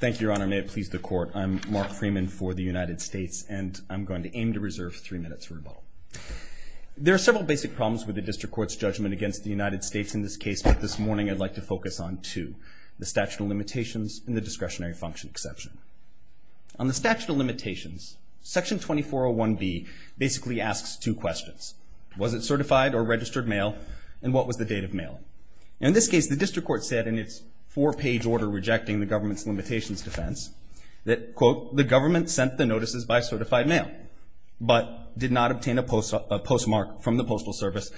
Thank you, Your Honor. May it please the Court. I'm Mark Freeman for the United States, and I'm going to aim to reserve three minutes for rebuttal. There are several basic problems with the District Court's judgment against the United States in this case, but this morning I'd like to focus on two. The statute of limitations and the discretionary function exception. On the statute of limitations, Section 2401B basically asks two questions. Was it certified or registered mail? And what was the date of mailing? In this case, the District Court said in its four-page order rejecting the government's limitations defense that, quote, the government sent the notices by certified mail, but did not obtain a postmark from the Postal Service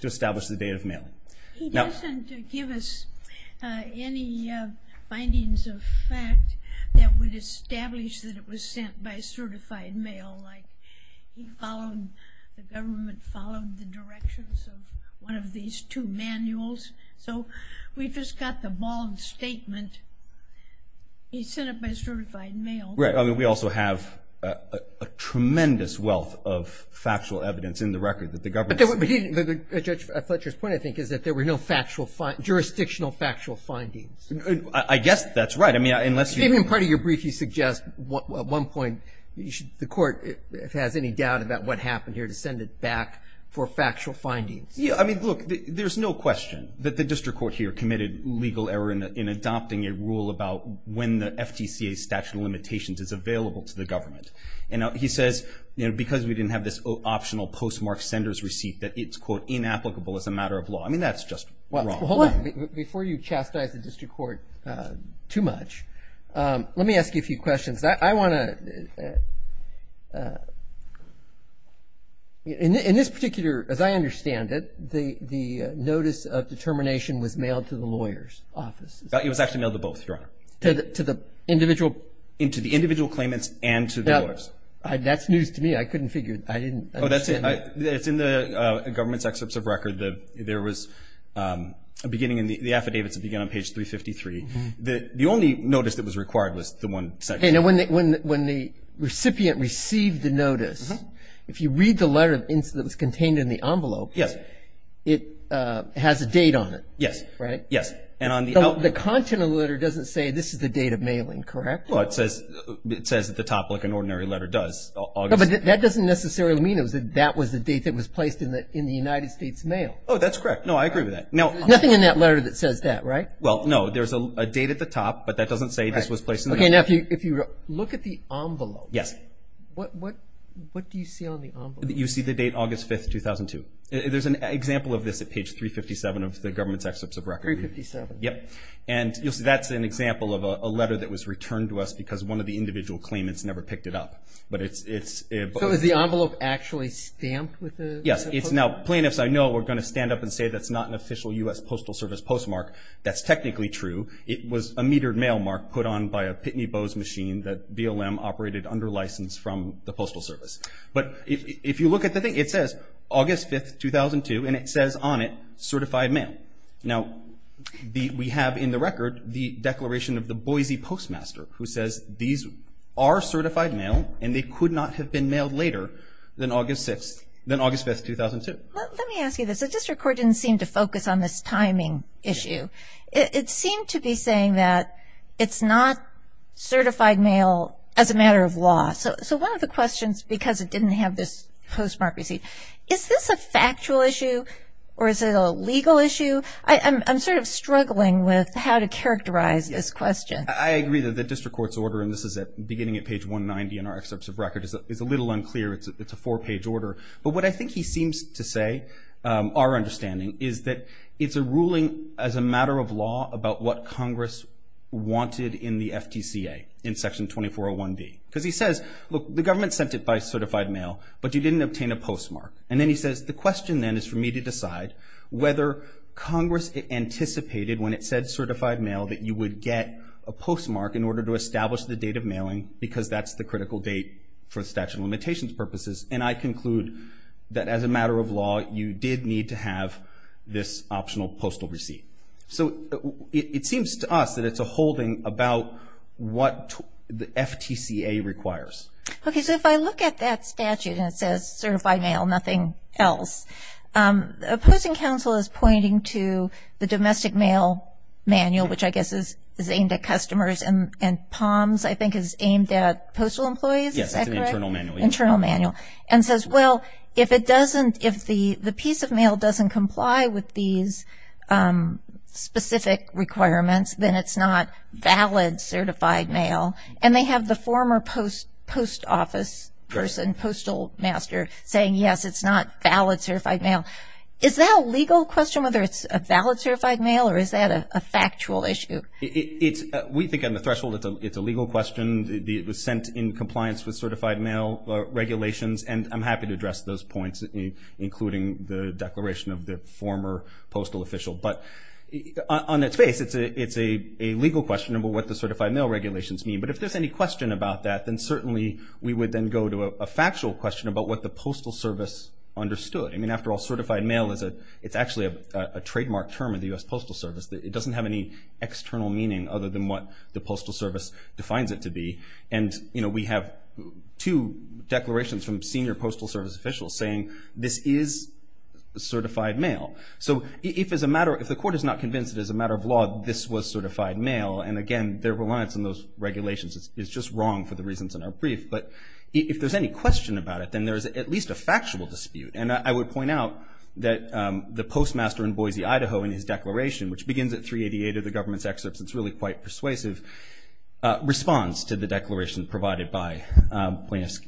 to establish the date of mailing. He doesn't give us any findings of fact that would establish that it was sent by certified mail. Like, he followed, the government followed the directions of one of these two manuals. So we've just got the wrong statement. He sent it by certified mail. Right. I mean, we also have a tremendous wealth of factual evidence in the record that the government sent. But Judge Fletcher's point, I think, is that there were no factual, jurisdictional factual findings. I guess that's right. I mean, unless you I mean, in part of your brief, you suggest at one point the court, if it has any doubt about what happened here, to send it back for factual findings. Yeah. I mean, look, there's no question that the District Court here committed legal error in adopting a rule about when the FTCA statute of limitations is available to the government. And he says, you know, because we didn't have this optional postmark sender's receipt that it's, quote, inapplicable as a matter of law. I mean, that's just wrong. Hold on. Before you chastise the District Court too much, let me ask you a few questions. I want to, in this particular, as I understand it, the notice of determination was mailed to the lawyer's office. It was actually mailed to both, Your Honor. To the individual. To the individual claimants and to the lawyers. That's news to me. I couldn't figure, I didn't. Oh, that's it. It's in the government's excerpts of record. There was a beginning in the affidavits that begin on page 353. The only notice that was required was the one section. When the recipient received the notice, if you read the letter that was contained in the envelope, it has a date on it. Yes. Right? Yes. The content of the letter doesn't say this is the date of mailing, correct? Well, it says at the top like an ordinary letter does. No, but that doesn't necessarily mean that that was the date that was placed in the United States mail. Oh, that's correct. No, I agree with that. There's nothing in that letter that says that, right? Well, no. There's a date at the top, but that doesn't say this was placed in the mail. Okay, now if you look at the envelope. Yes. What do you see on the envelope? You see the date August 5, 2002. There's an example of this at page 357 of the government's excerpts of record. 357. Yep. And you'll see that's an example of a letter that was returned to us because one of the individual claimants never picked it up. So is the envelope actually stamped with the postmark? Yes. Now, plaintiffs, I know, are going to stand up and say that's not an official U.S. Postal Service postmark. That's technically true. It was a metered mail mark put on by a Pitney Bowes machine that BLM operated under license from the Postal Service. But if you look at the thing, it says August 5, 2002, and it says on it certified mail. Now, we have in the record the declaration of the Boise Postmaster who says these are certified mail, and they could not have been mailed later than August 5, 2002. Let me ask you this. The district court didn't seem to focus on this timing issue. It seemed to be saying that it's not certified mail as a matter of law. So one of the questions, because it didn't have this postmark receipt, is this a factual issue or is it a legal issue? I'm sort of struggling with how to characterize this question. I agree that the district court's order, and this is beginning at page 190 in our excerpts of record, is a little unclear. It's a four-page order. But what I think he seems to say, our understanding, is that it's a ruling as a matter of law about what Congress wanted in the FTCA in Section 2401B. Because he says, look, the government sent it by certified mail, but you didn't obtain a postmark. And then he says, the question then is for me to decide whether Congress anticipated, when it said certified mail, that you would get a postmark in order to establish the date of mailing because that's the critical date for statute of limitations purposes. And I conclude that as a matter of law, you did need to have this optional postal receipt. So it seems to us that it's a holding about what the FTCA requires. Okay. So if I look at that statute and it says certified mail, nothing else, opposing counsel is pointing to the domestic mail manual, which I guess is aimed at customers, and POMS, I think, is aimed at postal employees. Yes, that's an internal manual. Internal manual. And says, well, if it doesn't, if the piece of mail doesn't comply with these specific requirements, then it's not valid certified mail. And they have the former post office person, postal master, saying, yes, it's not valid certified mail. Is that a legal question, whether it's a valid certified mail, or is that a factual issue? We think on the threshold it's a legal question. It was sent in compliance with certified mail regulations, and I'm happy to address those points, including the declaration of the former postal official. But on its face, it's a legal question about what the certified mail regulations mean. But if there's any question about that, then certainly we would then go to a factual question about what the Postal Service understood. I mean, after all, certified mail is actually a trademark term of the U.S. Postal Service. It doesn't have any external meaning other than what the Postal Service defines it to be. And, you know, we have two declarations from senior Postal Service officials saying this is certified mail. So if as a matter, if the court is not convinced it is a matter of law, this was certified mail. And, again, their reliance on those regulations is just wrong for the reasons in our brief. But if there's any question about it, then there's at least a factual dispute. And I would point out that the postmaster in Boise, Idaho, in his declaration, which begins at 388 of the government's excerpts, it's really quite persuasive, responds to the declaration provided by plaintiffs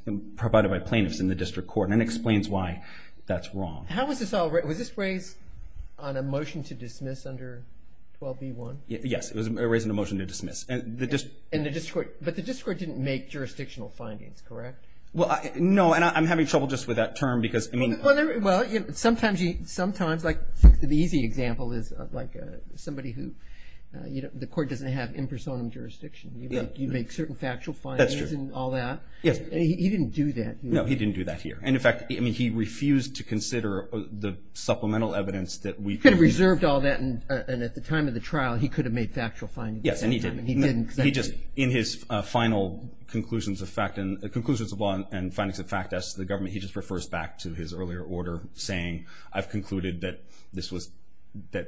in the district court and explains why that's wrong. How was this all raised? Was this raised on a motion to dismiss under 12b-1? Yes, it was raised in a motion to dismiss. But the district court didn't make jurisdictional findings, correct? Well, no. And I'm having trouble just with that term because, I mean. Well, sometimes, like the easy example is like somebody who, you know, the court doesn't have impersonal jurisdiction. You make certain factual findings and all that. Yes. And he didn't do that. No, he didn't do that here. And, in fact, I mean he refused to consider the supplemental evidence that we. He could have reserved all that and at the time of the trial he could have made factual findings. Yes, and he didn't. In his final conclusions of law and findings of fact as to the government, he just refers back to his earlier order saying, I've concluded that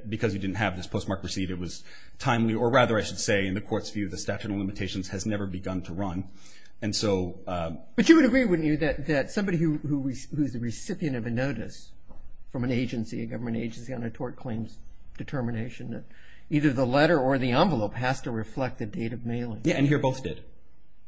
because you didn't have this postmarked receipt it was timely, or rather I should say in the court's view the statute of limitations has never begun to run. But you would agree, wouldn't you, that somebody who is a recipient of a notice from an agency, a government agency on a tort claim's determination that either the letter or the envelope has to reflect the date of mailing? Yes, and here both did.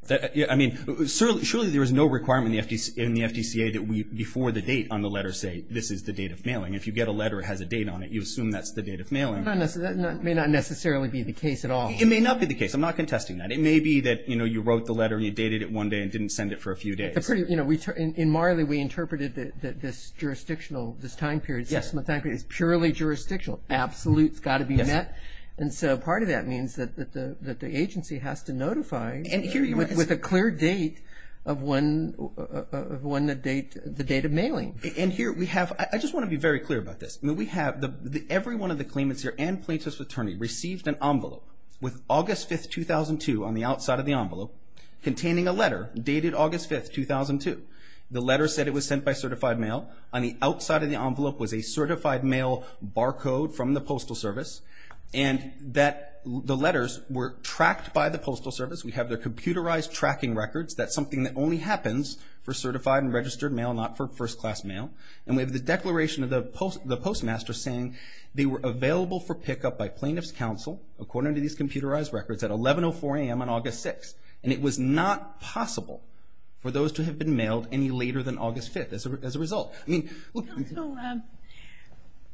I mean, surely there is no requirement in the FDCA that we, before the date on the letter say this is the date of mailing. If you get a letter that has a date on it, you assume that's the date of mailing. That may not necessarily be the case at all. It may not be the case. I'm not contesting that. It may be that, you know, you wrote the letter and you dated it one day and didn't send it for a few days. You know, in Marley we interpreted this jurisdictional, this time period. Yes. It's purely jurisdictional. Absolute's got to be met. And so part of that means that the agency has to notify with a clear date of when the date of mailing. And here we have, I just want to be very clear about this. We have, every one of the claimants here and plaintiff's attorney received an envelope with August 5, 2002 on the outside of the envelope containing a letter dated August 5, 2002. The letter said it was sent by certified mail. On the outside of the envelope was a certified mail barcode from the Postal Service and that the letters were tracked by the Postal Service. We have their computerized tracking records. That's something that only happens for certified and registered mail, not for first-class mail. And we have the declaration of the postmaster saying they were available for pickup by plaintiff's counsel, according to these computerized records, at 11.04 a.m. on August 6. And it was not possible for those to have been mailed any later than August 5 as a result. So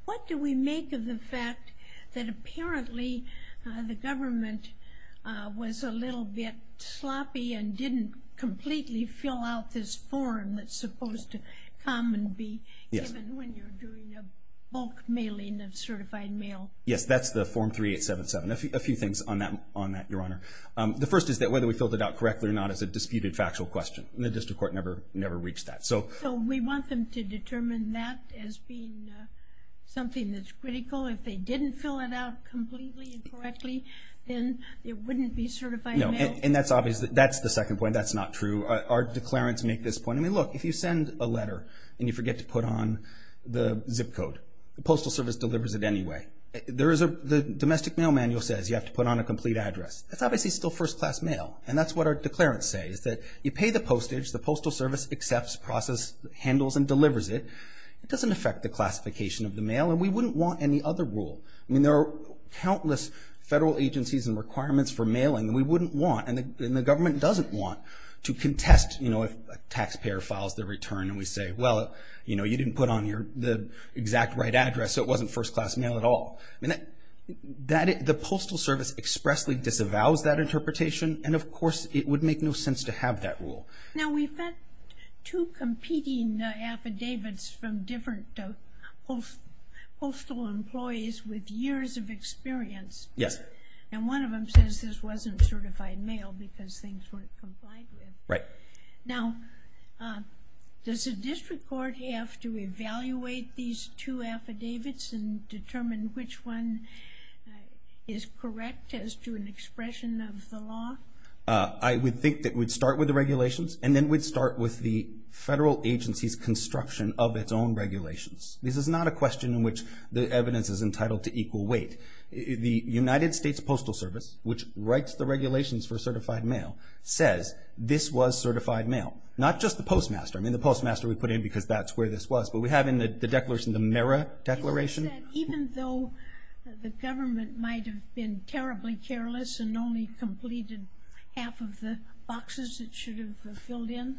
what do we make of the fact that apparently the government was a little bit sloppy and didn't completely fill out this form that's supposed to come and be given when you're doing a bulk mailing of certified mail? Yes, that's the Form 3877. A few things on that, Your Honor. The first is that whether we filled it out correctly or not is a disputed factual question, and the district court never reached that. So we want them to determine that as being something that's critical? If they didn't fill it out completely and correctly, then it wouldn't be certified mail? No, and that's obvious. That's the second point. That's not true. Our declarants make this point. I mean, look, if you send a letter and you forget to put on the zip code, the Postal Service delivers it anyway. The domestic mail manual says you have to put on a complete address. That's obviously still first-class mail, and that's what our declarants say, is that you pay the postage, the Postal Service accepts, processes, handles, and delivers it. It doesn't affect the classification of the mail, and we wouldn't want any other rule. I mean, there are countless federal agencies and requirements for mailing that we wouldn't want, and the government doesn't want to contest, you know, if a taxpayer files their return and we say, well, you know, you didn't put on the exact right address, so it wasn't first-class mail at all. I mean, the Postal Service expressly disavows that interpretation, and of course it would make no sense to have that rule. Now, we've got two competing affidavits from different postal employees with years of experience. Yes. And one of them says this wasn't certified mail because things weren't complied with. Right. Now, does the district court have to evaluate these two affidavits and determine which one is correct as to an expression of the law? I would think that we'd start with the regulations, and then we'd start with the federal agency's construction of its own regulations. This is not a question in which the evidence is entitled to equal weight. The United States Postal Service, which writes the regulations for certified mail, says this was certified mail, not just the Postmaster. I mean, the Postmaster we put in because that's where this was, but we have in the declaration the Mera Declaration. Even though the government might have been terribly careless and only completed half of the boxes it should have filled in?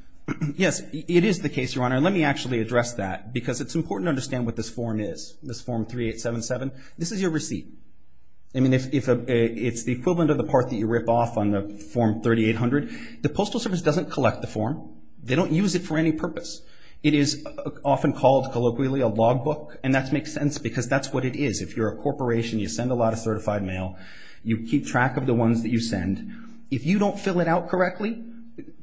Yes, it is the case, Your Honor, and let me actually address that because it's important to understand what this form is, this Form 3877. This is your receipt. I mean, it's the equivalent of the part that you rip off on the Form 3800. The Postal Service doesn't collect the form. They don't use it for any purpose. It is often called colloquially a logbook, and that makes sense because that's what it is. If you're a corporation, you send a lot of certified mail, you keep track of the ones that you send. If you don't fill it out correctly,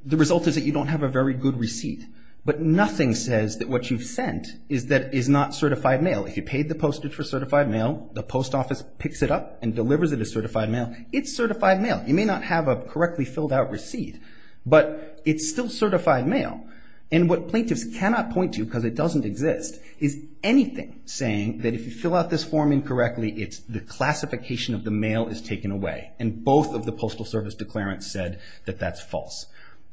the result is that you don't have a very good receipt. But nothing says that what you've sent is not certified mail. If you paid the postage for certified mail, the post office picks it up and delivers it as certified mail. It's certified mail. You may not have a correctly filled out receipt, but it's still certified mail. And what plaintiffs cannot point to because it doesn't exist is anything saying that if you fill out this form incorrectly, the classification of the mail is taken away, and both of the Postal Service declarants said that that's false.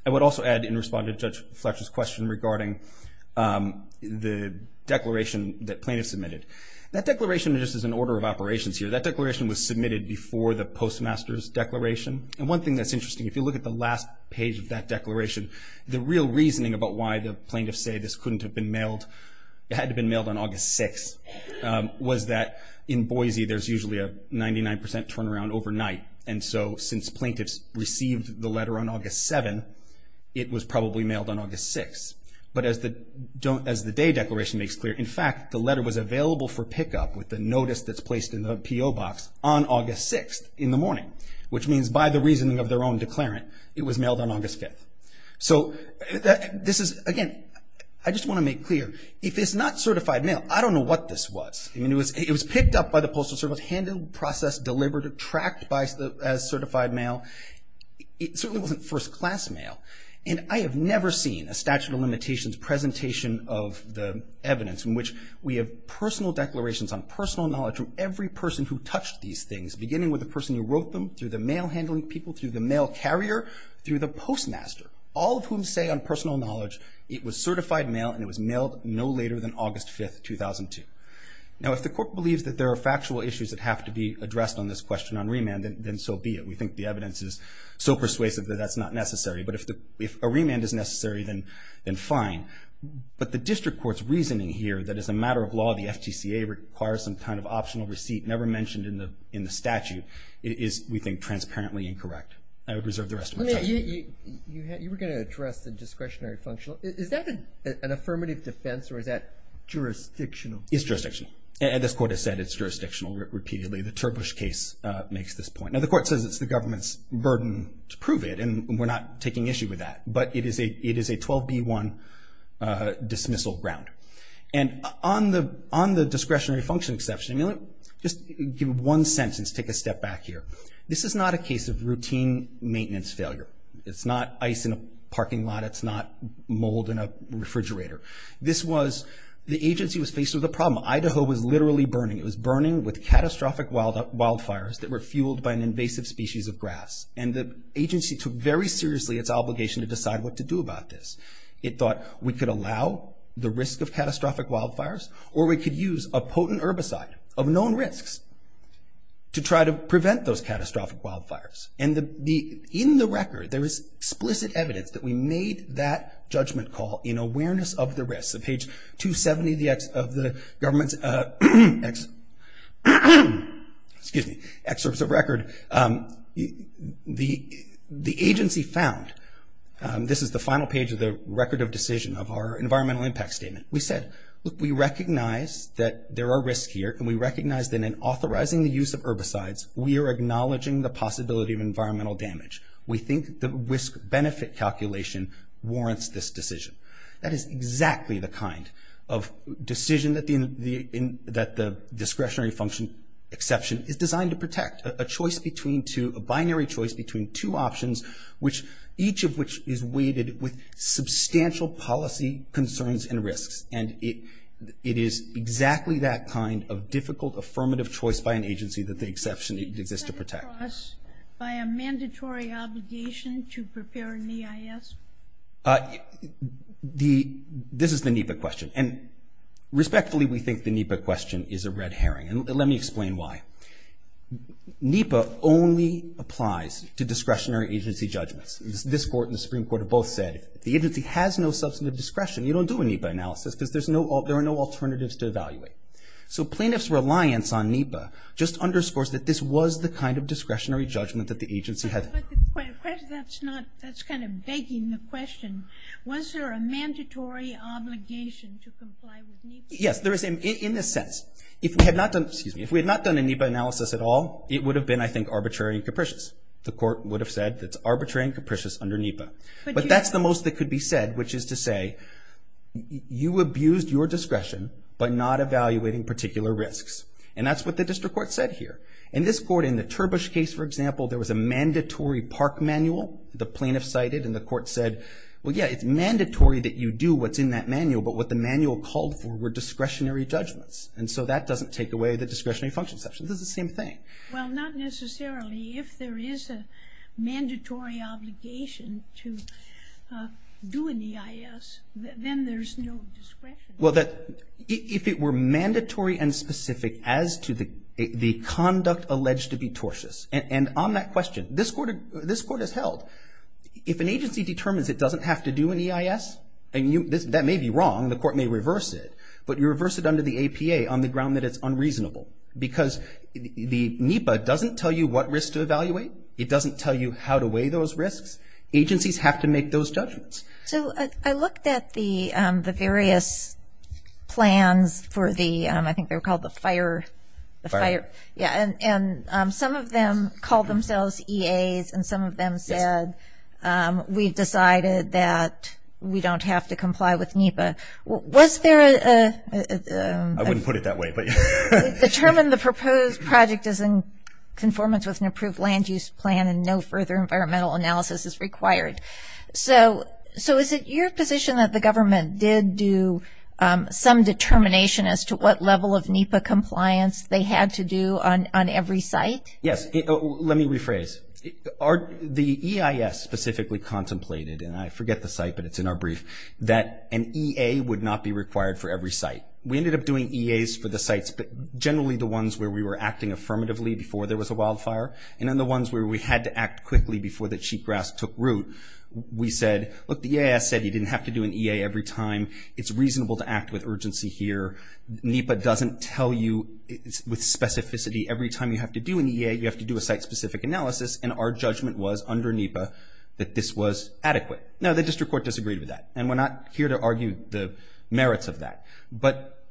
I would also add in response to Judge Fletcher's question regarding the declaration that plaintiffs submitted. That declaration just is an order of operations here. That declaration was submitted before the postmaster's declaration. And one thing that's interesting, if you look at the last page of that declaration, the real reasoning about why the plaintiffs say this couldn't have been mailed, it had to have been mailed on August 6th, was that in Boise there's usually a 99% turnaround overnight. And so since plaintiffs received the letter on August 7th, it was probably mailed on August 6th. But as the day declaration makes clear, in fact, the letter was available for pickup with the notice that's placed in the PO box on August 6th in the morning, which means by the reasoning of their own declarant, it was mailed on August 5th. So this is, again, I just want to make clear, if it's not certified mail, I don't know what this was. It was picked up by the Postal Service, handled, processed, delivered, tracked as certified mail. It certainly wasn't first-class mail. And I have never seen a statute of limitations presentation of the evidence in which we have personal declarations on personal knowledge of every person who touched these things, beginning with the person who wrote them, through the mail handling people, through the mail carrier, through the postmaster, all of whom say on personal knowledge it was certified mail and it was mailed no later than August 5th, 2002. Now, if the Court believes that there are factual issues that have to be addressed on this question on remand, then so be it. We think the evidence is so persuasive that that's not necessary. But if a remand is necessary, then fine. But the District Court's reasoning here that as a matter of law, the FTCA requires some kind of optional receipt, never mentioned in the statute, is, we think, transparently incorrect. I would reserve the rest of my time. You were going to address the discretionary functional. Is that an affirmative defense or is that jurisdictional? It's jurisdictional. And this Court has said it's jurisdictional repeatedly. The Turbush case makes this point. Now, the Court says it's the government's burden to prove it, and we're not taking issue with that. But it is a 12B1 dismissal ground. And on the discretionary function exception, just give one sentence, take a step back here. This is not a case of routine maintenance failure. It's not ice in a parking lot. It's not mold in a refrigerator. This was the agency was faced with a problem. Idaho was literally burning. It was burning with catastrophic wildfires that were fueled by an invasive species of grass. And the agency took very seriously its obligation to decide what to do about this. It thought we could allow the risk of catastrophic wildfires or we could use a potent herbicide of known risks to try to prevent those catastrophic wildfires. And in the record, there is explicit evidence that we made that judgment call in awareness of the risks. On page 270 of the government's excerpts of record, the agency found, this is the final page of the record of decision of our environmental impact statement. We said, look, we recognize that there are risks here, and we recognize that in authorizing the use of herbicides, we are acknowledging the possibility of environmental damage. We think the risk-benefit calculation warrants this decision. That is exactly the kind of decision that the discretionary function exception is designed to protect. A choice between two, a binary choice between two options, each of which is weighted with substantial policy concerns and risks. And it is exactly that kind of difficult affirmative choice by an agency that the exception exists to protect. By a mandatory obligation to prepare an EIS? This is the NEPA question, and respectfully, we think the NEPA question is a red herring, and let me explain why. NEPA only applies to discretionary agency judgments. This Court and the Supreme Court have both said, if the agency has no substantive discretion, you don't do a NEPA analysis because there are no alternatives to evaluate. So plaintiff's reliance on NEPA just underscores that this was the kind of discretionary judgment that the agency had. But that's kind of begging the question. Was there a mandatory obligation to comply with NEPA? Yes, in a sense. If we had not done a NEPA analysis at all, it would have been, I think, arbitrary and capricious. The Court would have said it's arbitrary and capricious under NEPA. But that's the most that could be said, which is to say, you abused your discretion by not evaluating particular risks. And that's what the District Court said here. In this Court, in the Turbush case, for example, there was a mandatory park manual the plaintiff cited, and the Court said, well, yeah, it's mandatory that you do what's in that manual, but what the manual called for were discretionary judgments. And so that doesn't take away the discretionary function section. This is the same thing. Well, not necessarily. If there is a mandatory obligation to do an EIS, then there's no discretion. Well, if it were mandatory and specific as to the conduct alleged to be tortious, and on that question, this Court has held, if an agency determines it doesn't have to do an EIS, that may be wrong. The Court may reverse it. But you reverse it under the APA on the ground that it's unreasonable because the NEPA doesn't tell you what risks to evaluate. It doesn't tell you how to weigh those risks. Agencies have to make those judgments. So I looked at the various plans for the, I think they were called the FIRE. And some of them called themselves EAs, and some of them said, we've decided that we don't have to comply with NEPA. Was there a – I wouldn't put it that way. Determine the proposed project is in conformance with an approved land use plan and no further environmental analysis is required. So is it your position that the government did do some determination as to what level of NEPA compliance they had to do on every site? Yes. Let me rephrase. The EIS specifically contemplated, and I forget the site, but it's in our brief, that an EA would not be required for every site. We ended up doing EAs for the sites, but generally the ones where we were acting affirmatively before there was a wildfire and then the ones where we had to act quickly before the cheatgrass took root. We said, look, the EIS said you didn't have to do an EA every time. It's reasonable to act with urgency here. NEPA doesn't tell you with specificity every time you have to do an EA, you have to do a site-specific analysis, and our judgment was under NEPA that this was adequate. Now, the district court disagreed with that, and we're not here to argue the merits of that. But,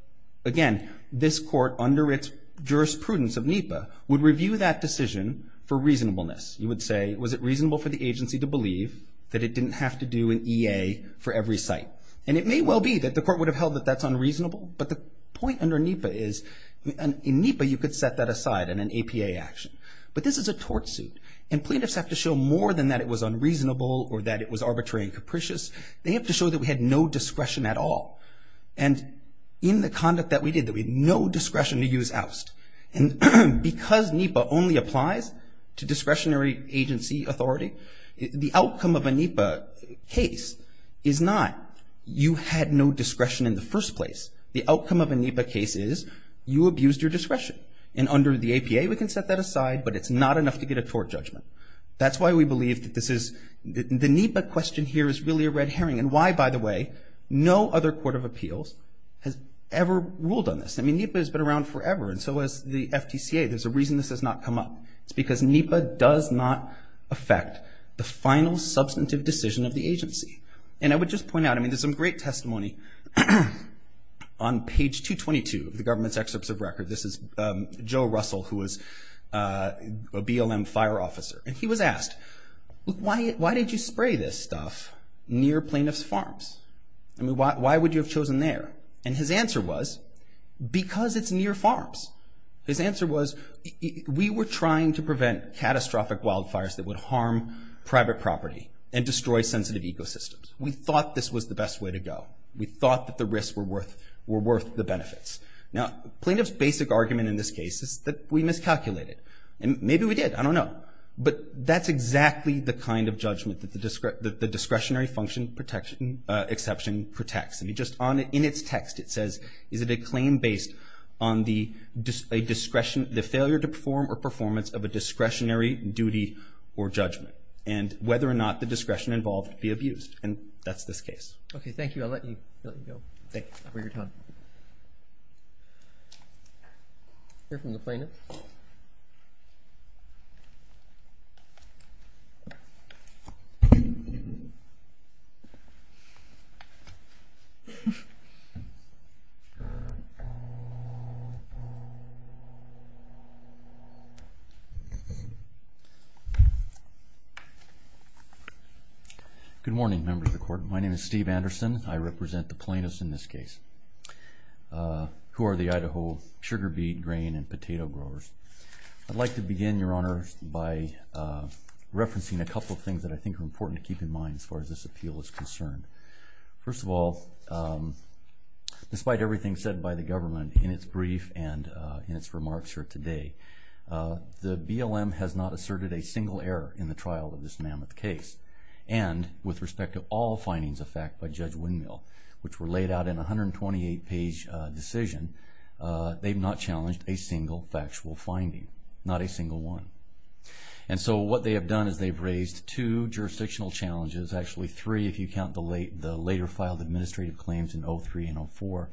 again, this court, under its jurisprudence of NEPA, would review that decision for reasonableness. You would say, was it reasonable for the agency to believe that it didn't have to do an EA for every site? And it may well be that the court would have held that that's unreasonable, but the point under NEPA is in NEPA you could set that aside in an APA action. But this is a tort suit, and plaintiffs have to show more than that it was unreasonable or that it was arbitrary and capricious. They have to show that we had no discretion at all. And in the conduct that we did, that we had no discretion to use oust. And because NEPA only applies to discretionary agency authority, the outcome of a NEPA case is not you had no discretion in the first place. The outcome of a NEPA case is you abused your discretion. And under the APA we can set that aside, but it's not enough to get a tort judgment. That's why we believe that this is the NEPA question here is really a red herring and why, by the way, no other court of appeals has ever ruled on this. I mean, NEPA has been around forever, and so has the FTCA. There's a reason this has not come up. It's because NEPA does not affect the final substantive decision of the agency. And I would just point out, I mean, there's some great testimony on page 222 of the government's excerpts of record. This is Joe Russell, who is a BLM fire officer, and he was asked, why did you spray this stuff near plaintiff's farms? I mean, why would you have chosen there? And his answer was, because it's near farms. His answer was, we were trying to prevent catastrophic wildfires that would harm private property and destroy sensitive ecosystems. We thought this was the best way to go. We thought that the risks were worth the benefits. Now, plaintiff's basic argument in this case is that we miscalculated. Maybe we did. I don't know. But that's exactly the kind of judgment that the discretionary function exception protects. I mean, just in its text, it says, is it a claim based on the failure to perform or performance of a discretionary duty or judgment and whether or not the discretion involved be abused? And that's this case. Okay, thank you. I'll let you go. Thank you for your time. Hear from the plaintiff. Good morning, members of the Court. My name is Steve Anderson. I represent the plaintiffs in this case, who are the Idaho sugar beet, grain, and potato growers. I'd like to begin, Your Honor, by referencing a couple of things that I think are important to keep in mind as far as this appeal is concerned. First of all, despite everything said by the government in its brief and in its remarks here today, the BLM has not asserted a single error in the trial of this mammoth case. And with respect to all findings of fact by Judge Windmill, which were laid out in a 128-page decision, they've not challenged a single factual finding, not a single one. And so what they have done is they've raised two jurisdictional challenges, actually three if you count the later filed administrative claims in 03 and 04,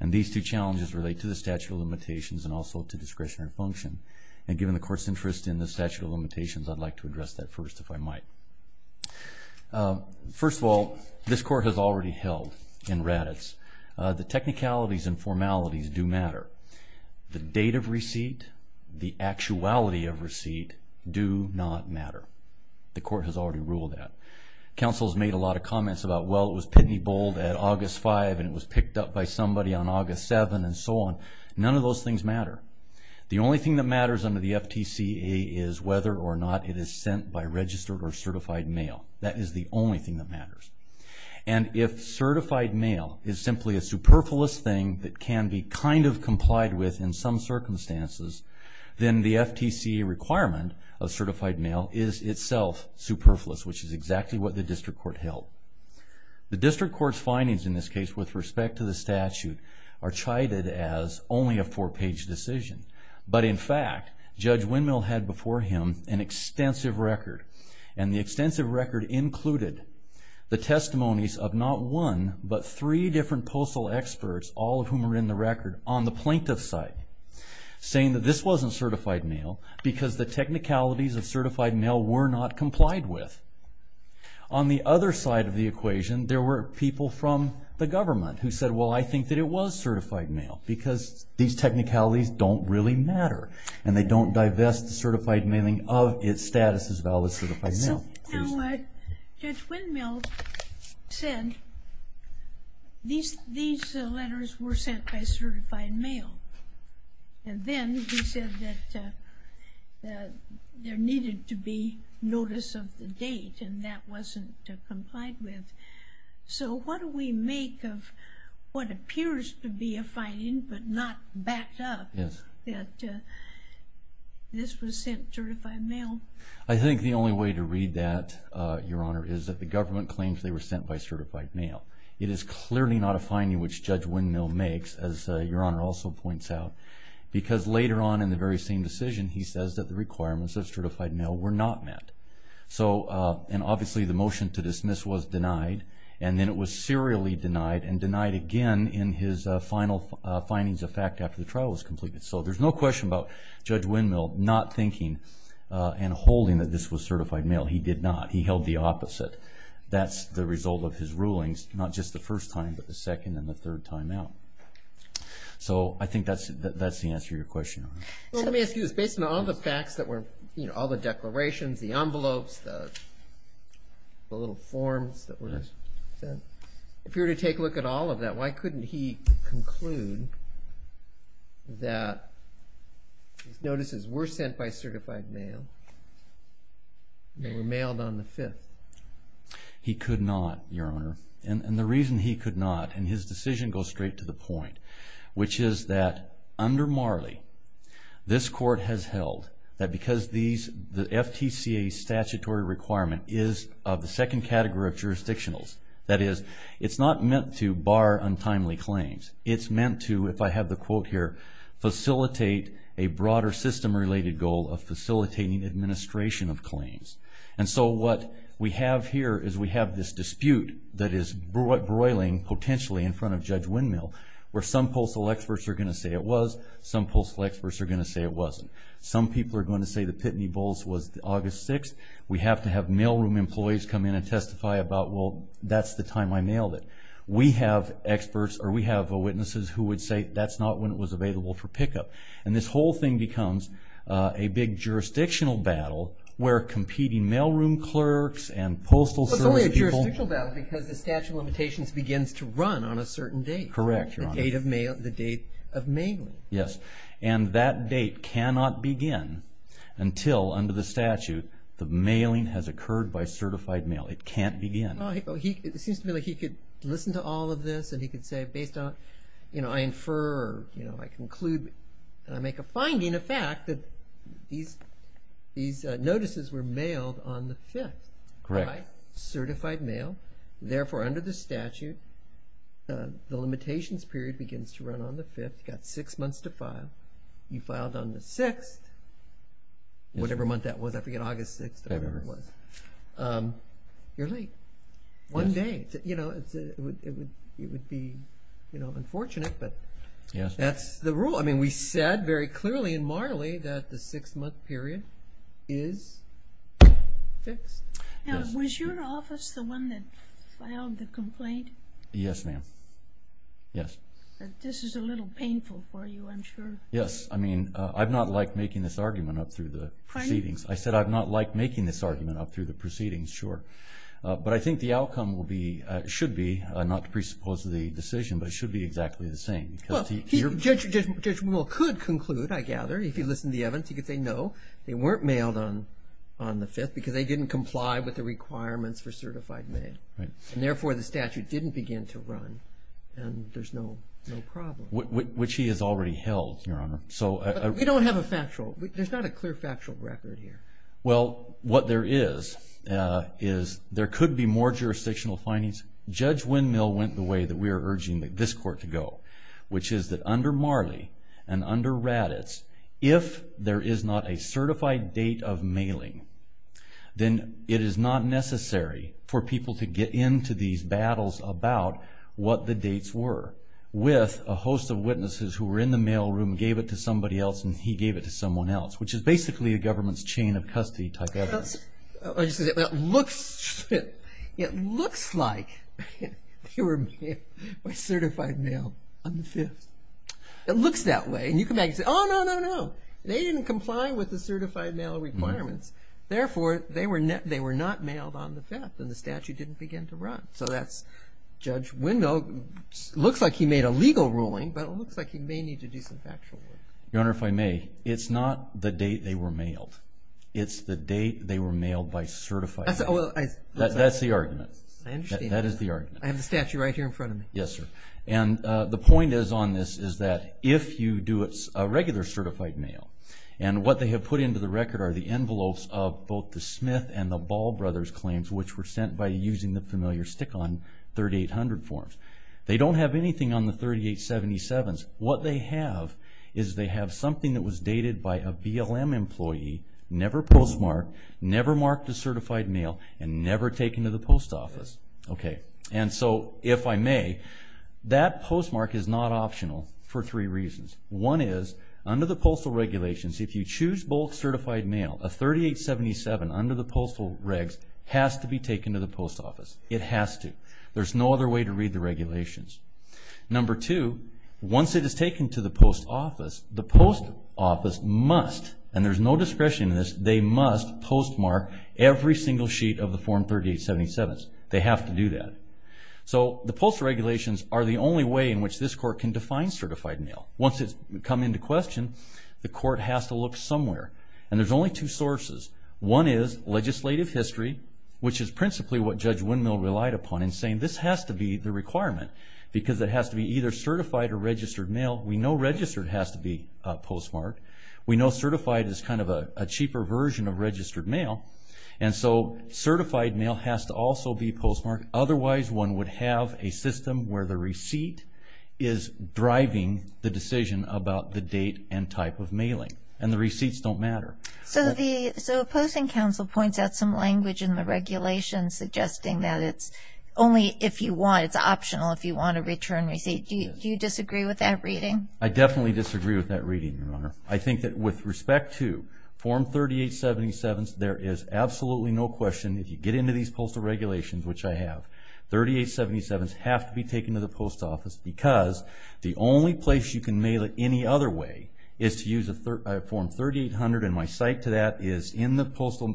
and these two challenges relate to the statute of limitations and also to discretionary function. And given the Court's interest in the statute of limitations, I'd like to address that first, if I might. First of all, this Court has already held in Raddatz the technicalities and formalities do matter. The date of receipt, the actuality of receipt, do not matter. The Court has already ruled that. Counsel has made a lot of comments about, well, it was Pitney Bold at August 5, and it was picked up by somebody on August 7, and so on. None of those things matter. The only thing that matters under the FTCA is whether or not it is sent by registered or certified mail. That is the only thing that matters. And if certified mail is simply a superfluous thing that can be kind of complied with in some circumstances, then the FTCA requirement of certified mail is itself superfluous, which is exactly what the District Court held. The District Court's findings in this case with respect to the statute are chided as only a four-page decision. But in fact, Judge Windmill had before him an extensive record, and the extensive record included the testimonies of not one, but three different postal experts, all of whom are in the record, on the plaintiff's side, saying that this wasn't certified mail because the technicalities of certified mail were not complied with. On the other side of the equation, there were people from the government who said, well, I think that it was certified mail because these technicalities don't really matter, and they don't divest the certified mailing of its status as valid certified mail. Now, Judge Windmill said these letters were sent by certified mail, and then he said that there needed to be notice of the date, and that wasn't complied with. So what do we make of what appears to be a finding, but not backed up, that this was sent certified mail? I think the only way to read that, Your Honor, is that the government claims they were sent by certified mail. It is clearly not a finding which Judge Windmill makes, as Your Honor also points out, because later on in the very same decision, he says that the requirements of certified mail were not met. Obviously, the motion to dismiss was denied, and then it was serially denied, and denied again in his final findings of fact after the trial was completed. So there's no question about Judge Windmill not thinking and holding that this was certified mail. He did not. He held the opposite. That's the result of his rulings, not just the first time, but the second and the third time out. So I think that's the answer to your question, Your Honor. Let me ask you this. Based on all the facts that were, you know, all the declarations, the envelopes, the little forms that were sent, if you were to take a look at all of that, why couldn't he conclude that these notices were sent by certified mail and they were mailed on the 5th? He could not, Your Honor, and the reason he could not, and his decision goes straight to the point, which is that under Marley, this court has held that because the FTCA statutory requirement is of the second category of jurisdictionals, that is, it's not meant to bar untimely claims. It's meant to, if I have the quote here, facilitate a broader system-related goal of facilitating administration of claims. And so what we have here is we have this dispute that is broiling, potentially, in front of Judge Windmill, where some postal experts are going to say it was, some postal experts are going to say it wasn't. Some people are going to say the Pitney Bowles was August 6th. We have to have mailroom employees come in and testify about, well, that's the time I mailed it. We have witnesses who would say that's not when it was available for pickup. And this whole thing becomes a big jurisdictional battle where competing mailroom clerks and postal service people- is to run on a certain date. Correct, Your Honor. The date of mailing. Yes. And that date cannot begin until, under the statute, the mailing has occurred by certified mail. It can't begin. It seems to me like he could listen to all of this and he could say, based on, you know, I infer, you know, I conclude, and I make a finding of fact that these notices were mailed on the 5th. Correct. By certified mail. Therefore, under the statute, the limitations period begins to run on the 5th. You've got six months to file. You filed on the 6th, whatever month that was. I forget, August 6th or whatever it was. You're late one day. You know, it would be, you know, unfortunate, but that's the rule. I mean, we said very clearly in Marley that the six-month period is fixed. Now, was your office the one that filed the complaint? Yes, ma'am. Yes. This is a little painful for you, I'm sure. Yes. I mean, I've not liked making this argument up through the proceedings. Pardon me? I said I've not liked making this argument up through the proceedings, sure. But I think the outcome will be, should be, not to presuppose the decision, but it should be exactly the same. Judge Mill could conclude, I gather, if he listened to the evidence, he could say, no, they weren't mailed on the 5th because they didn't comply with the requirements for certified mail. Right. And, therefore, the statute didn't begin to run, and there's no problem. Which he has already held, Your Honor. But we don't have a factual. There's not a clear factual record here. Well, what there is is there could be more jurisdictional findings. Judge Windmill went the way that we are urging this court to go, which is that under Marley and under Raddatz, if there is not a certified date of mailing, then it is not necessary for people to get into these battles about what the dates were. With a host of witnesses who were in the mail room, gave it to somebody else, and he gave it to someone else, which is basically a government's chain of custody type evidence. It looks like they were certified mail on the 5th. It looks that way, and you come back and say, oh, no, no, no. They didn't comply with the certified mail requirements. Therefore, they were not mailed on the 5th, and the statute didn't begin to run. So that's Judge Windmill. It looks like he made a legal ruling, but it looks like he may need to do some factual work. Your Honor, if I may, it's not the date they were mailed. It's the date they were mailed by certified mail. That's the argument. I understand. That is the argument. I have the statute right here in front of me. Yes, sir. And the point is on this is that if you do a regular certified mail, and what they have put into the record are the envelopes of both the Smith and the Ball brothers' claims, which were sent by using the familiar stick-on 3800 forms. They don't have anything on the 3877s. What they have is they have something that was dated by a BLM employee, never postmarked, never marked as certified mail, and never taken to the post office. Okay. And so if I may, that postmark is not optional for three reasons. One is under the postal regulations, if you choose both certified mail, a 3877 under the postal regs has to be taken to the post office. It has to. There's no other way to read the regulations. Number two, once it is taken to the post office, the post office must, and there's no discretion in this, they must postmark every single sheet of the Form 3877s. They have to do that. So the postal regulations are the only way in which this court can define certified mail. Once it's come into question, the court has to look somewhere, and there's only two sources. One is legislative history, which is principally what Judge Windmill relied upon in saying this has to be the requirement because it has to be either certified or registered mail. We know registered has to be postmarked. We know certified is kind of a cheaper version of registered mail, and so certified mail has to also be postmarked. Otherwise, one would have a system where the receipt is driving the decision about the date and type of mailing, and the receipts don't matter. So the Posting Council points out some language in the regulations suggesting that it's only if you want, it's optional if you want a return receipt. Do you disagree with that reading? I definitely disagree with that reading, Your Honor. I think that with respect to Form 3877s, there is absolutely no question, if you get into these postal regulations, which I have, 3877s have to be taken to the post office because the only place you can mail it any other way is to use a Form 3800, and my site to that is in the postal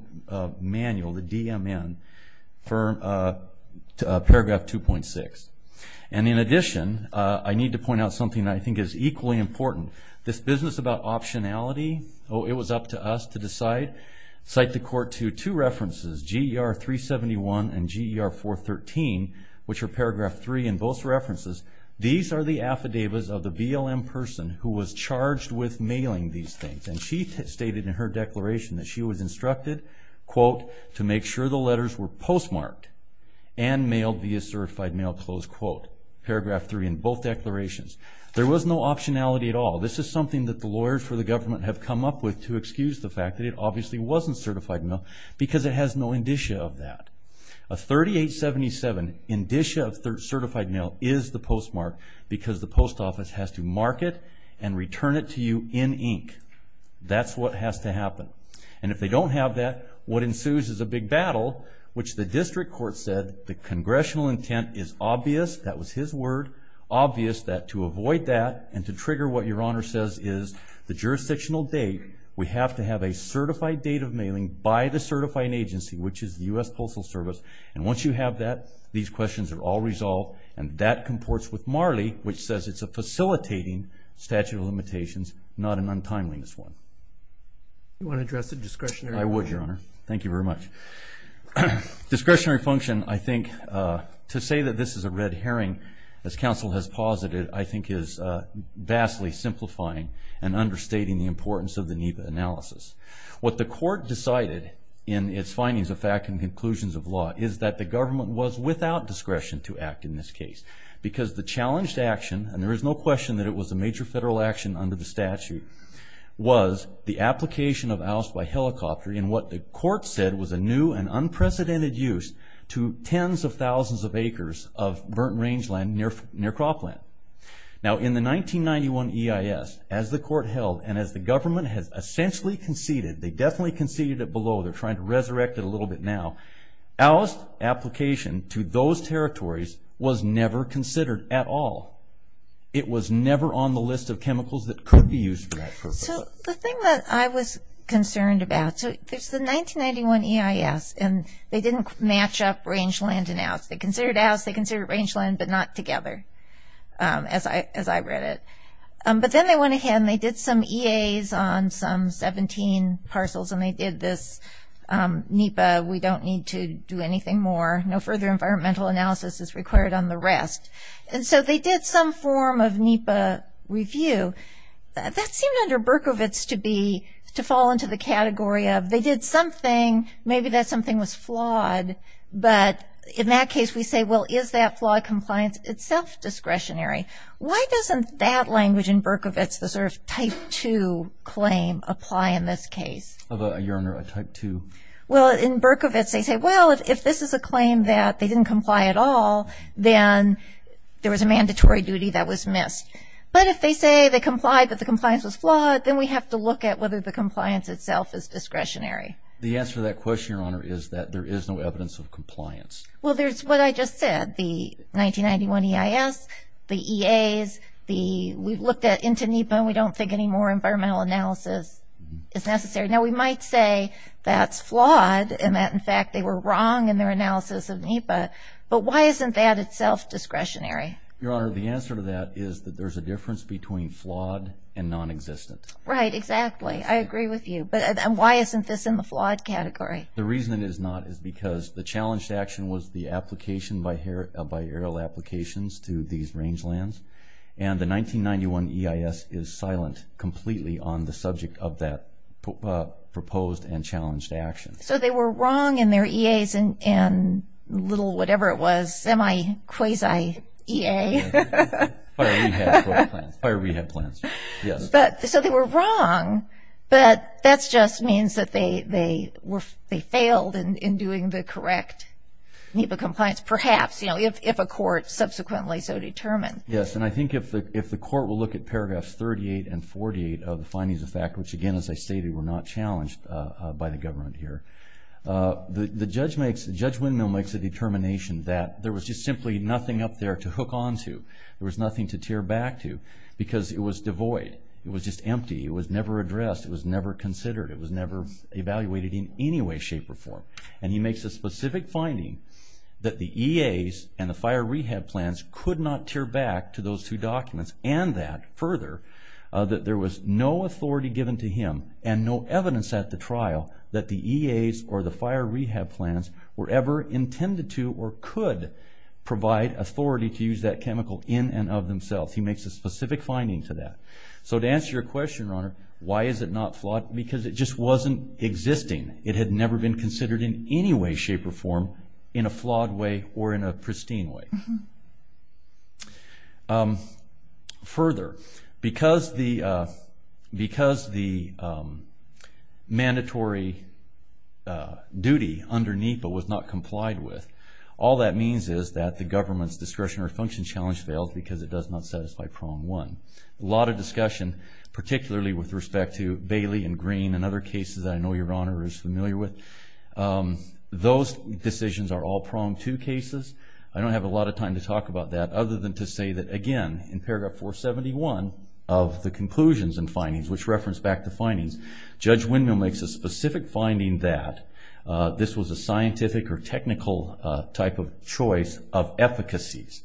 manual, the DMN, Paragraph 2.6. And in addition, I need to point out something that I think is equally important. This business about optionality, it was up to us to decide, cite the Court to two references, GER 371 and GER 413, which are Paragraph 3 in both references. These are the affidavits of the BLM person who was charged with mailing these things, and she stated in her declaration that she was instructed, quote, to make sure the letters were postmarked and mailed via certified mail, close quote. Paragraph 3 in both declarations. There was no optionality at all. This is something that the lawyers for the government have come up with to excuse the fact that it obviously wasn't certified mail because it has no indicia of that. A 3877 indicia of certified mail is the postmark because the post office has to mark it and return it to you in ink. That's what has to happen. And if they don't have that, what ensues is a big battle, which the district court said the congressional intent is obvious, that was his word, obvious that to avoid that and to trigger what Your Honor says is the jurisdictional date, we have to have a certified date of mailing by the certifying agency, which is the U.S. Postal Service. And once you have that, these questions are all resolved, and that comports with Marley, which says it's a facilitating statute of limitations, not an untimeliness one. You want to address the discretionary function? I would, Your Honor. Thank you very much. Discretionary function, I think, to say that this is a red herring, as counsel has posited, I think is vastly simplifying and understating the importance of the NEPA analysis. What the court decided in its findings of fact and conclusions of law is that the government was without discretion to act in this case because the challenged action, and there is no question that it was a major federal action under the statute, was the application of Allis-by-Helicopter in what the court said was a new and unprecedented use to tens of thousands of acres of burnt rangeland near Cropland. Now, in the 1991 EIS, as the court held and as the government has essentially conceded, they definitely conceded it below, they're trying to resurrect it a little bit now, Allis application to those territories was never considered at all. It was never on the list of chemicals that could be used for that purpose. So the thing that I was concerned about, so there's the 1991 EIS and they didn't match up rangeland and Allis. They considered Allis, they considered rangeland, but not together, as I read it. But then they went ahead and they did some EAs on some 17 parcels and they did this NEPA, we don't need to do anything more, no further environmental analysis is required on the rest. And so they did some form of NEPA review. That seemed under Berkovits to be, to fall into the category of, they did something, maybe that something was flawed, but in that case we say, well, is that flawed compliance itself discretionary? Why doesn't that language in Berkovits, the sort of type 2 claim, apply in this case? Your Honor, a type 2? Well, in Berkovits they say, well, if this is a claim that they didn't comply at all, then there was a mandatory duty that was missed. But if they say they complied but the compliance was flawed, then we have to look at whether the compliance itself is discretionary. The answer to that question, Your Honor, is that there is no evidence of compliance. Well, there's what I just said, the 1991 EIS, the EAs, we've looked into NEPA and we don't think any more environmental analysis is necessary. Now, we might say that's flawed and that, in fact, they were wrong in their analysis of NEPA. But why isn't that itself discretionary? Your Honor, the answer to that is that there's a difference between flawed and non-existent. Right, exactly. I agree with you. But why isn't this in the flawed category? The reason it is not is because the challenge to action was the application by aerial applications to these rangelands. And the 1991 EIS is silent completely on the subject of that proposed and challenged action. So they were wrong in their EAs and little whatever it was, semi-quasi-EA. Fire rehab plans. So they were wrong, but that just means that they failed in doing the correct NEPA compliance, perhaps, you know, if a court subsequently so determined. Yes, and I think if the court will look at paragraphs 38 and 48 of the findings of fact, which, again, as I stated, were not challenged by the government here, the judge makes a determination that there was just simply nothing up there to hook onto. There was nothing to tear back to because it was devoid. It was just empty. It was never addressed. It was never considered. It was never evaluated in any way, shape, or form. And he makes a specific finding that the EAs and the fire rehab plans could not tear back to those two documents and that, further, that there was no authority given to him and no evidence at the trial that the EAs or the fire rehab plans were ever intended to or could provide authority to use that chemical in and of themselves. He makes a specific finding to that. So to answer your question, Your Honor, why is it not flawed? Because it just wasn't existing. It had never been considered in any way, shape, or form in a flawed way or in a pristine way. Further, because the mandatory duty under NEPA was not complied with, all that means is that the government's discretionary function challenge fails because it does not satisfy prong one. A lot of discussion, particularly with respect to Bailey and Green and other cases that I know Your Honor is familiar with, those decisions are all prong two cases. I don't have a lot of time to talk about that other than to say that, again, in paragraph 471 of the conclusions and findings, which reference back to findings, Judge Windmill makes a specific finding that this was a scientific or technical type of choice of efficacies.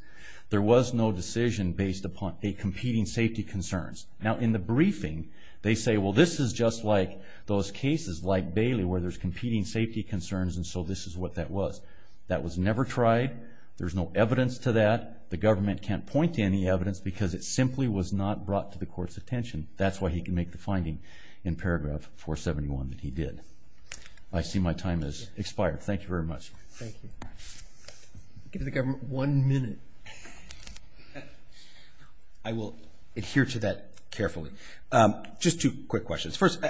There was no decision based upon competing safety concerns. Now, in the briefing, they say, well, this is just like those cases like Bailey where there's competing safety concerns and so this is what that was. That was never tried. There's no evidence to that. The government can't point to any evidence because it simply was not brought to the court's attention. That's why he can make the finding in paragraph 471 that he did. I see my time has expired. Thank you very much. Thank you. Give the government one minute. I will adhere to that carefully. Just two quick questions. First,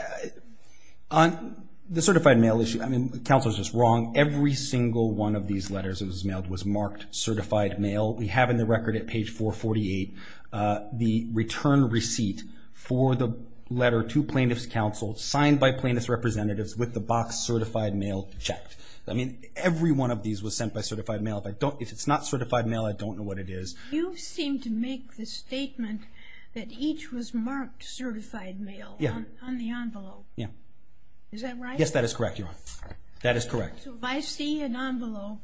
on the certified mail issue, I mean, counsel is just wrong. Every single one of these letters that was mailed was marked certified mail. We have in the record at page 448 the return receipt for the letter to plaintiff's counsel signed by plaintiff's representatives with the box certified mail checked. I mean, every one of these was sent by certified mail. If it's not certified mail, I don't know what it is. You seem to make the statement that each was marked certified mail on the envelope. Is that right? Yes, that is correct, Your Honor. That is correct. So if I see an envelope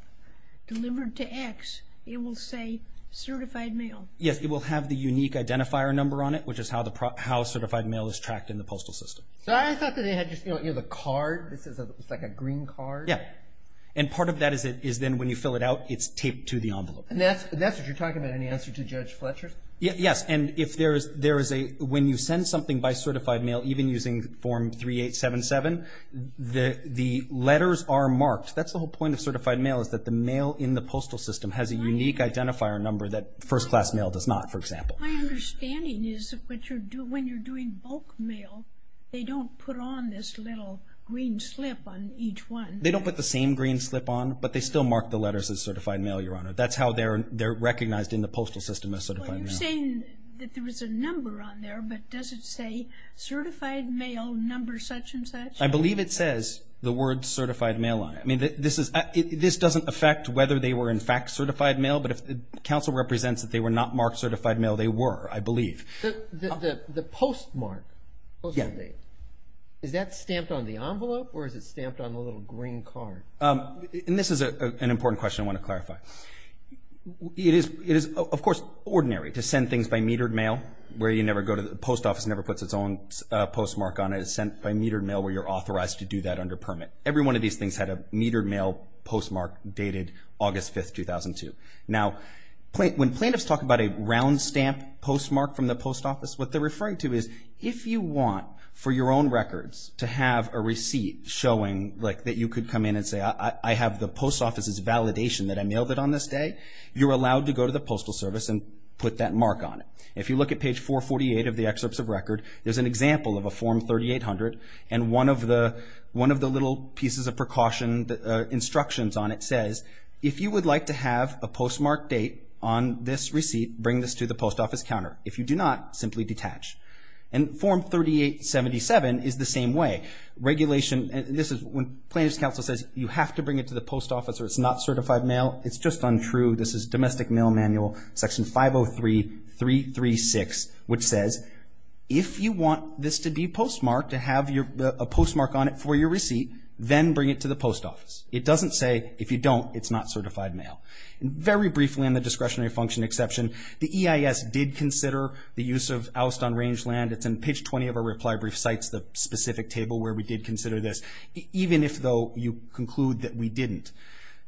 delivered to X, it will say certified mail? Yes, it will have the unique identifier number on it, which is how certified mail is tracked in the postal system. So I thought that it had just, you know, the card. It's like a green card. Yeah, and part of that is then when you fill it out, it's taped to the envelope. And that's what you're talking about in the answer to Judge Fletcher? Yes, and if there is a – when you send something by certified mail, even using Form 3877, the letters are marked. That's the whole point of certified mail is that the mail in the postal system has a unique identifier number that first-class mail does not, for example. My understanding is when you're doing bulk mail, they don't put on this little green slip on each one. They don't put the same green slip on, but they still mark the letters as certified mail, Your Honor. That's how they're recognized in the postal system as certified mail. You're saying that there was a number on there, but does it say certified mail number such and such? I believe it says the word certified mail on it. I mean, this doesn't affect whether they were in fact certified mail, but if counsel represents that they were not marked certified mail, they were, I believe. The postmark, is that stamped on the envelope, or is it stamped on the little green card? And this is an important question I want to clarify. It is, of course, ordinary to send things by metered mail. The post office never puts its own postmark on it. It's sent by metered mail where you're authorized to do that under permit. Every one of these things had a metered mail postmark dated August 5, 2002. Now, when plaintiffs talk about a round-stamped postmark from the post office, what they're referring to is if you want, for your own records, to have a receipt showing that you could come in and say, I have the post office's validation that I mailed it on this day, you're allowed to go to the postal service and put that mark on it. If you look at page 448 of the excerpts of record, there's an example of a Form 3800, and one of the little pieces of precaution instructions on it says, if you would like to have a postmark date on this receipt, bring this to the post office counter. If you do not, simply detach. And Form 3877 is the same way. Regulation, and this is when plaintiffs' counsel says, you have to bring it to the post office or it's not certified mail. It's just untrue. This is Domestic Mail Manual, Section 503.336, which says, if you want this to be postmarked, to have a postmark on it for your receipt, then bring it to the post office. It doesn't say, if you don't, it's not certified mail. Very briefly on the discretionary function exception, the EIS did consider the use of oust on rangeland. It's in page 20 of our reply brief, cites the specific table where we did consider this, even if, though, you conclude that we didn't.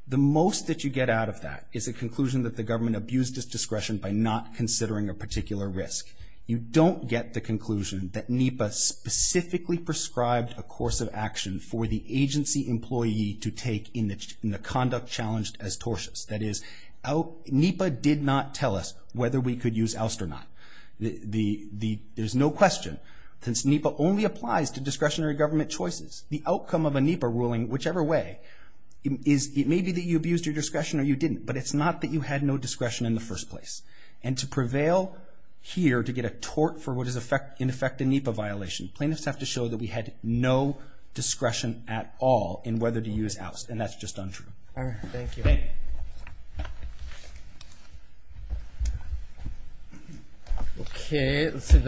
The most that you get out of that is a conclusion that the government abused its discretion by not considering a particular risk. You don't get the conclusion that NEPA specifically prescribed a course of action for the agency employee to take in the conduct challenged as tortious. That is, NEPA did not tell us whether we could use oust or not. There's no question, since NEPA only applies to discretionary government choices, the outcome of a NEPA ruling, whichever way, it may be that you abused your discretion or you didn't, but it's not that you had no discretion in the first place. And to prevail here, to get a tort for what is in effect a NEPA violation, plaintiffs have to show that we had no discretion at all in whether to use oust, and that's just untrue. All right. Thank you. Okay. Let's see.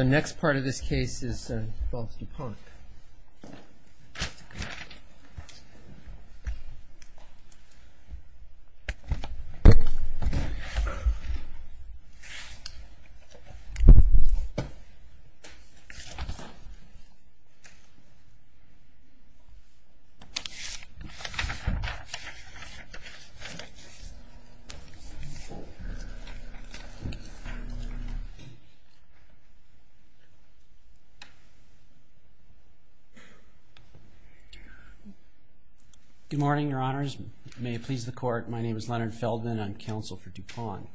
Good morning, Your Honors. May it please the Court. My name is Leonard Feldman. I'm counsel for DuPont.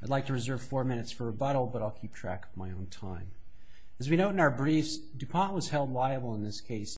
I'd like to reserve four minutes for rebuttal, but I'll keep track of my own time. As we note in our briefs, DuPont was held liable in this case.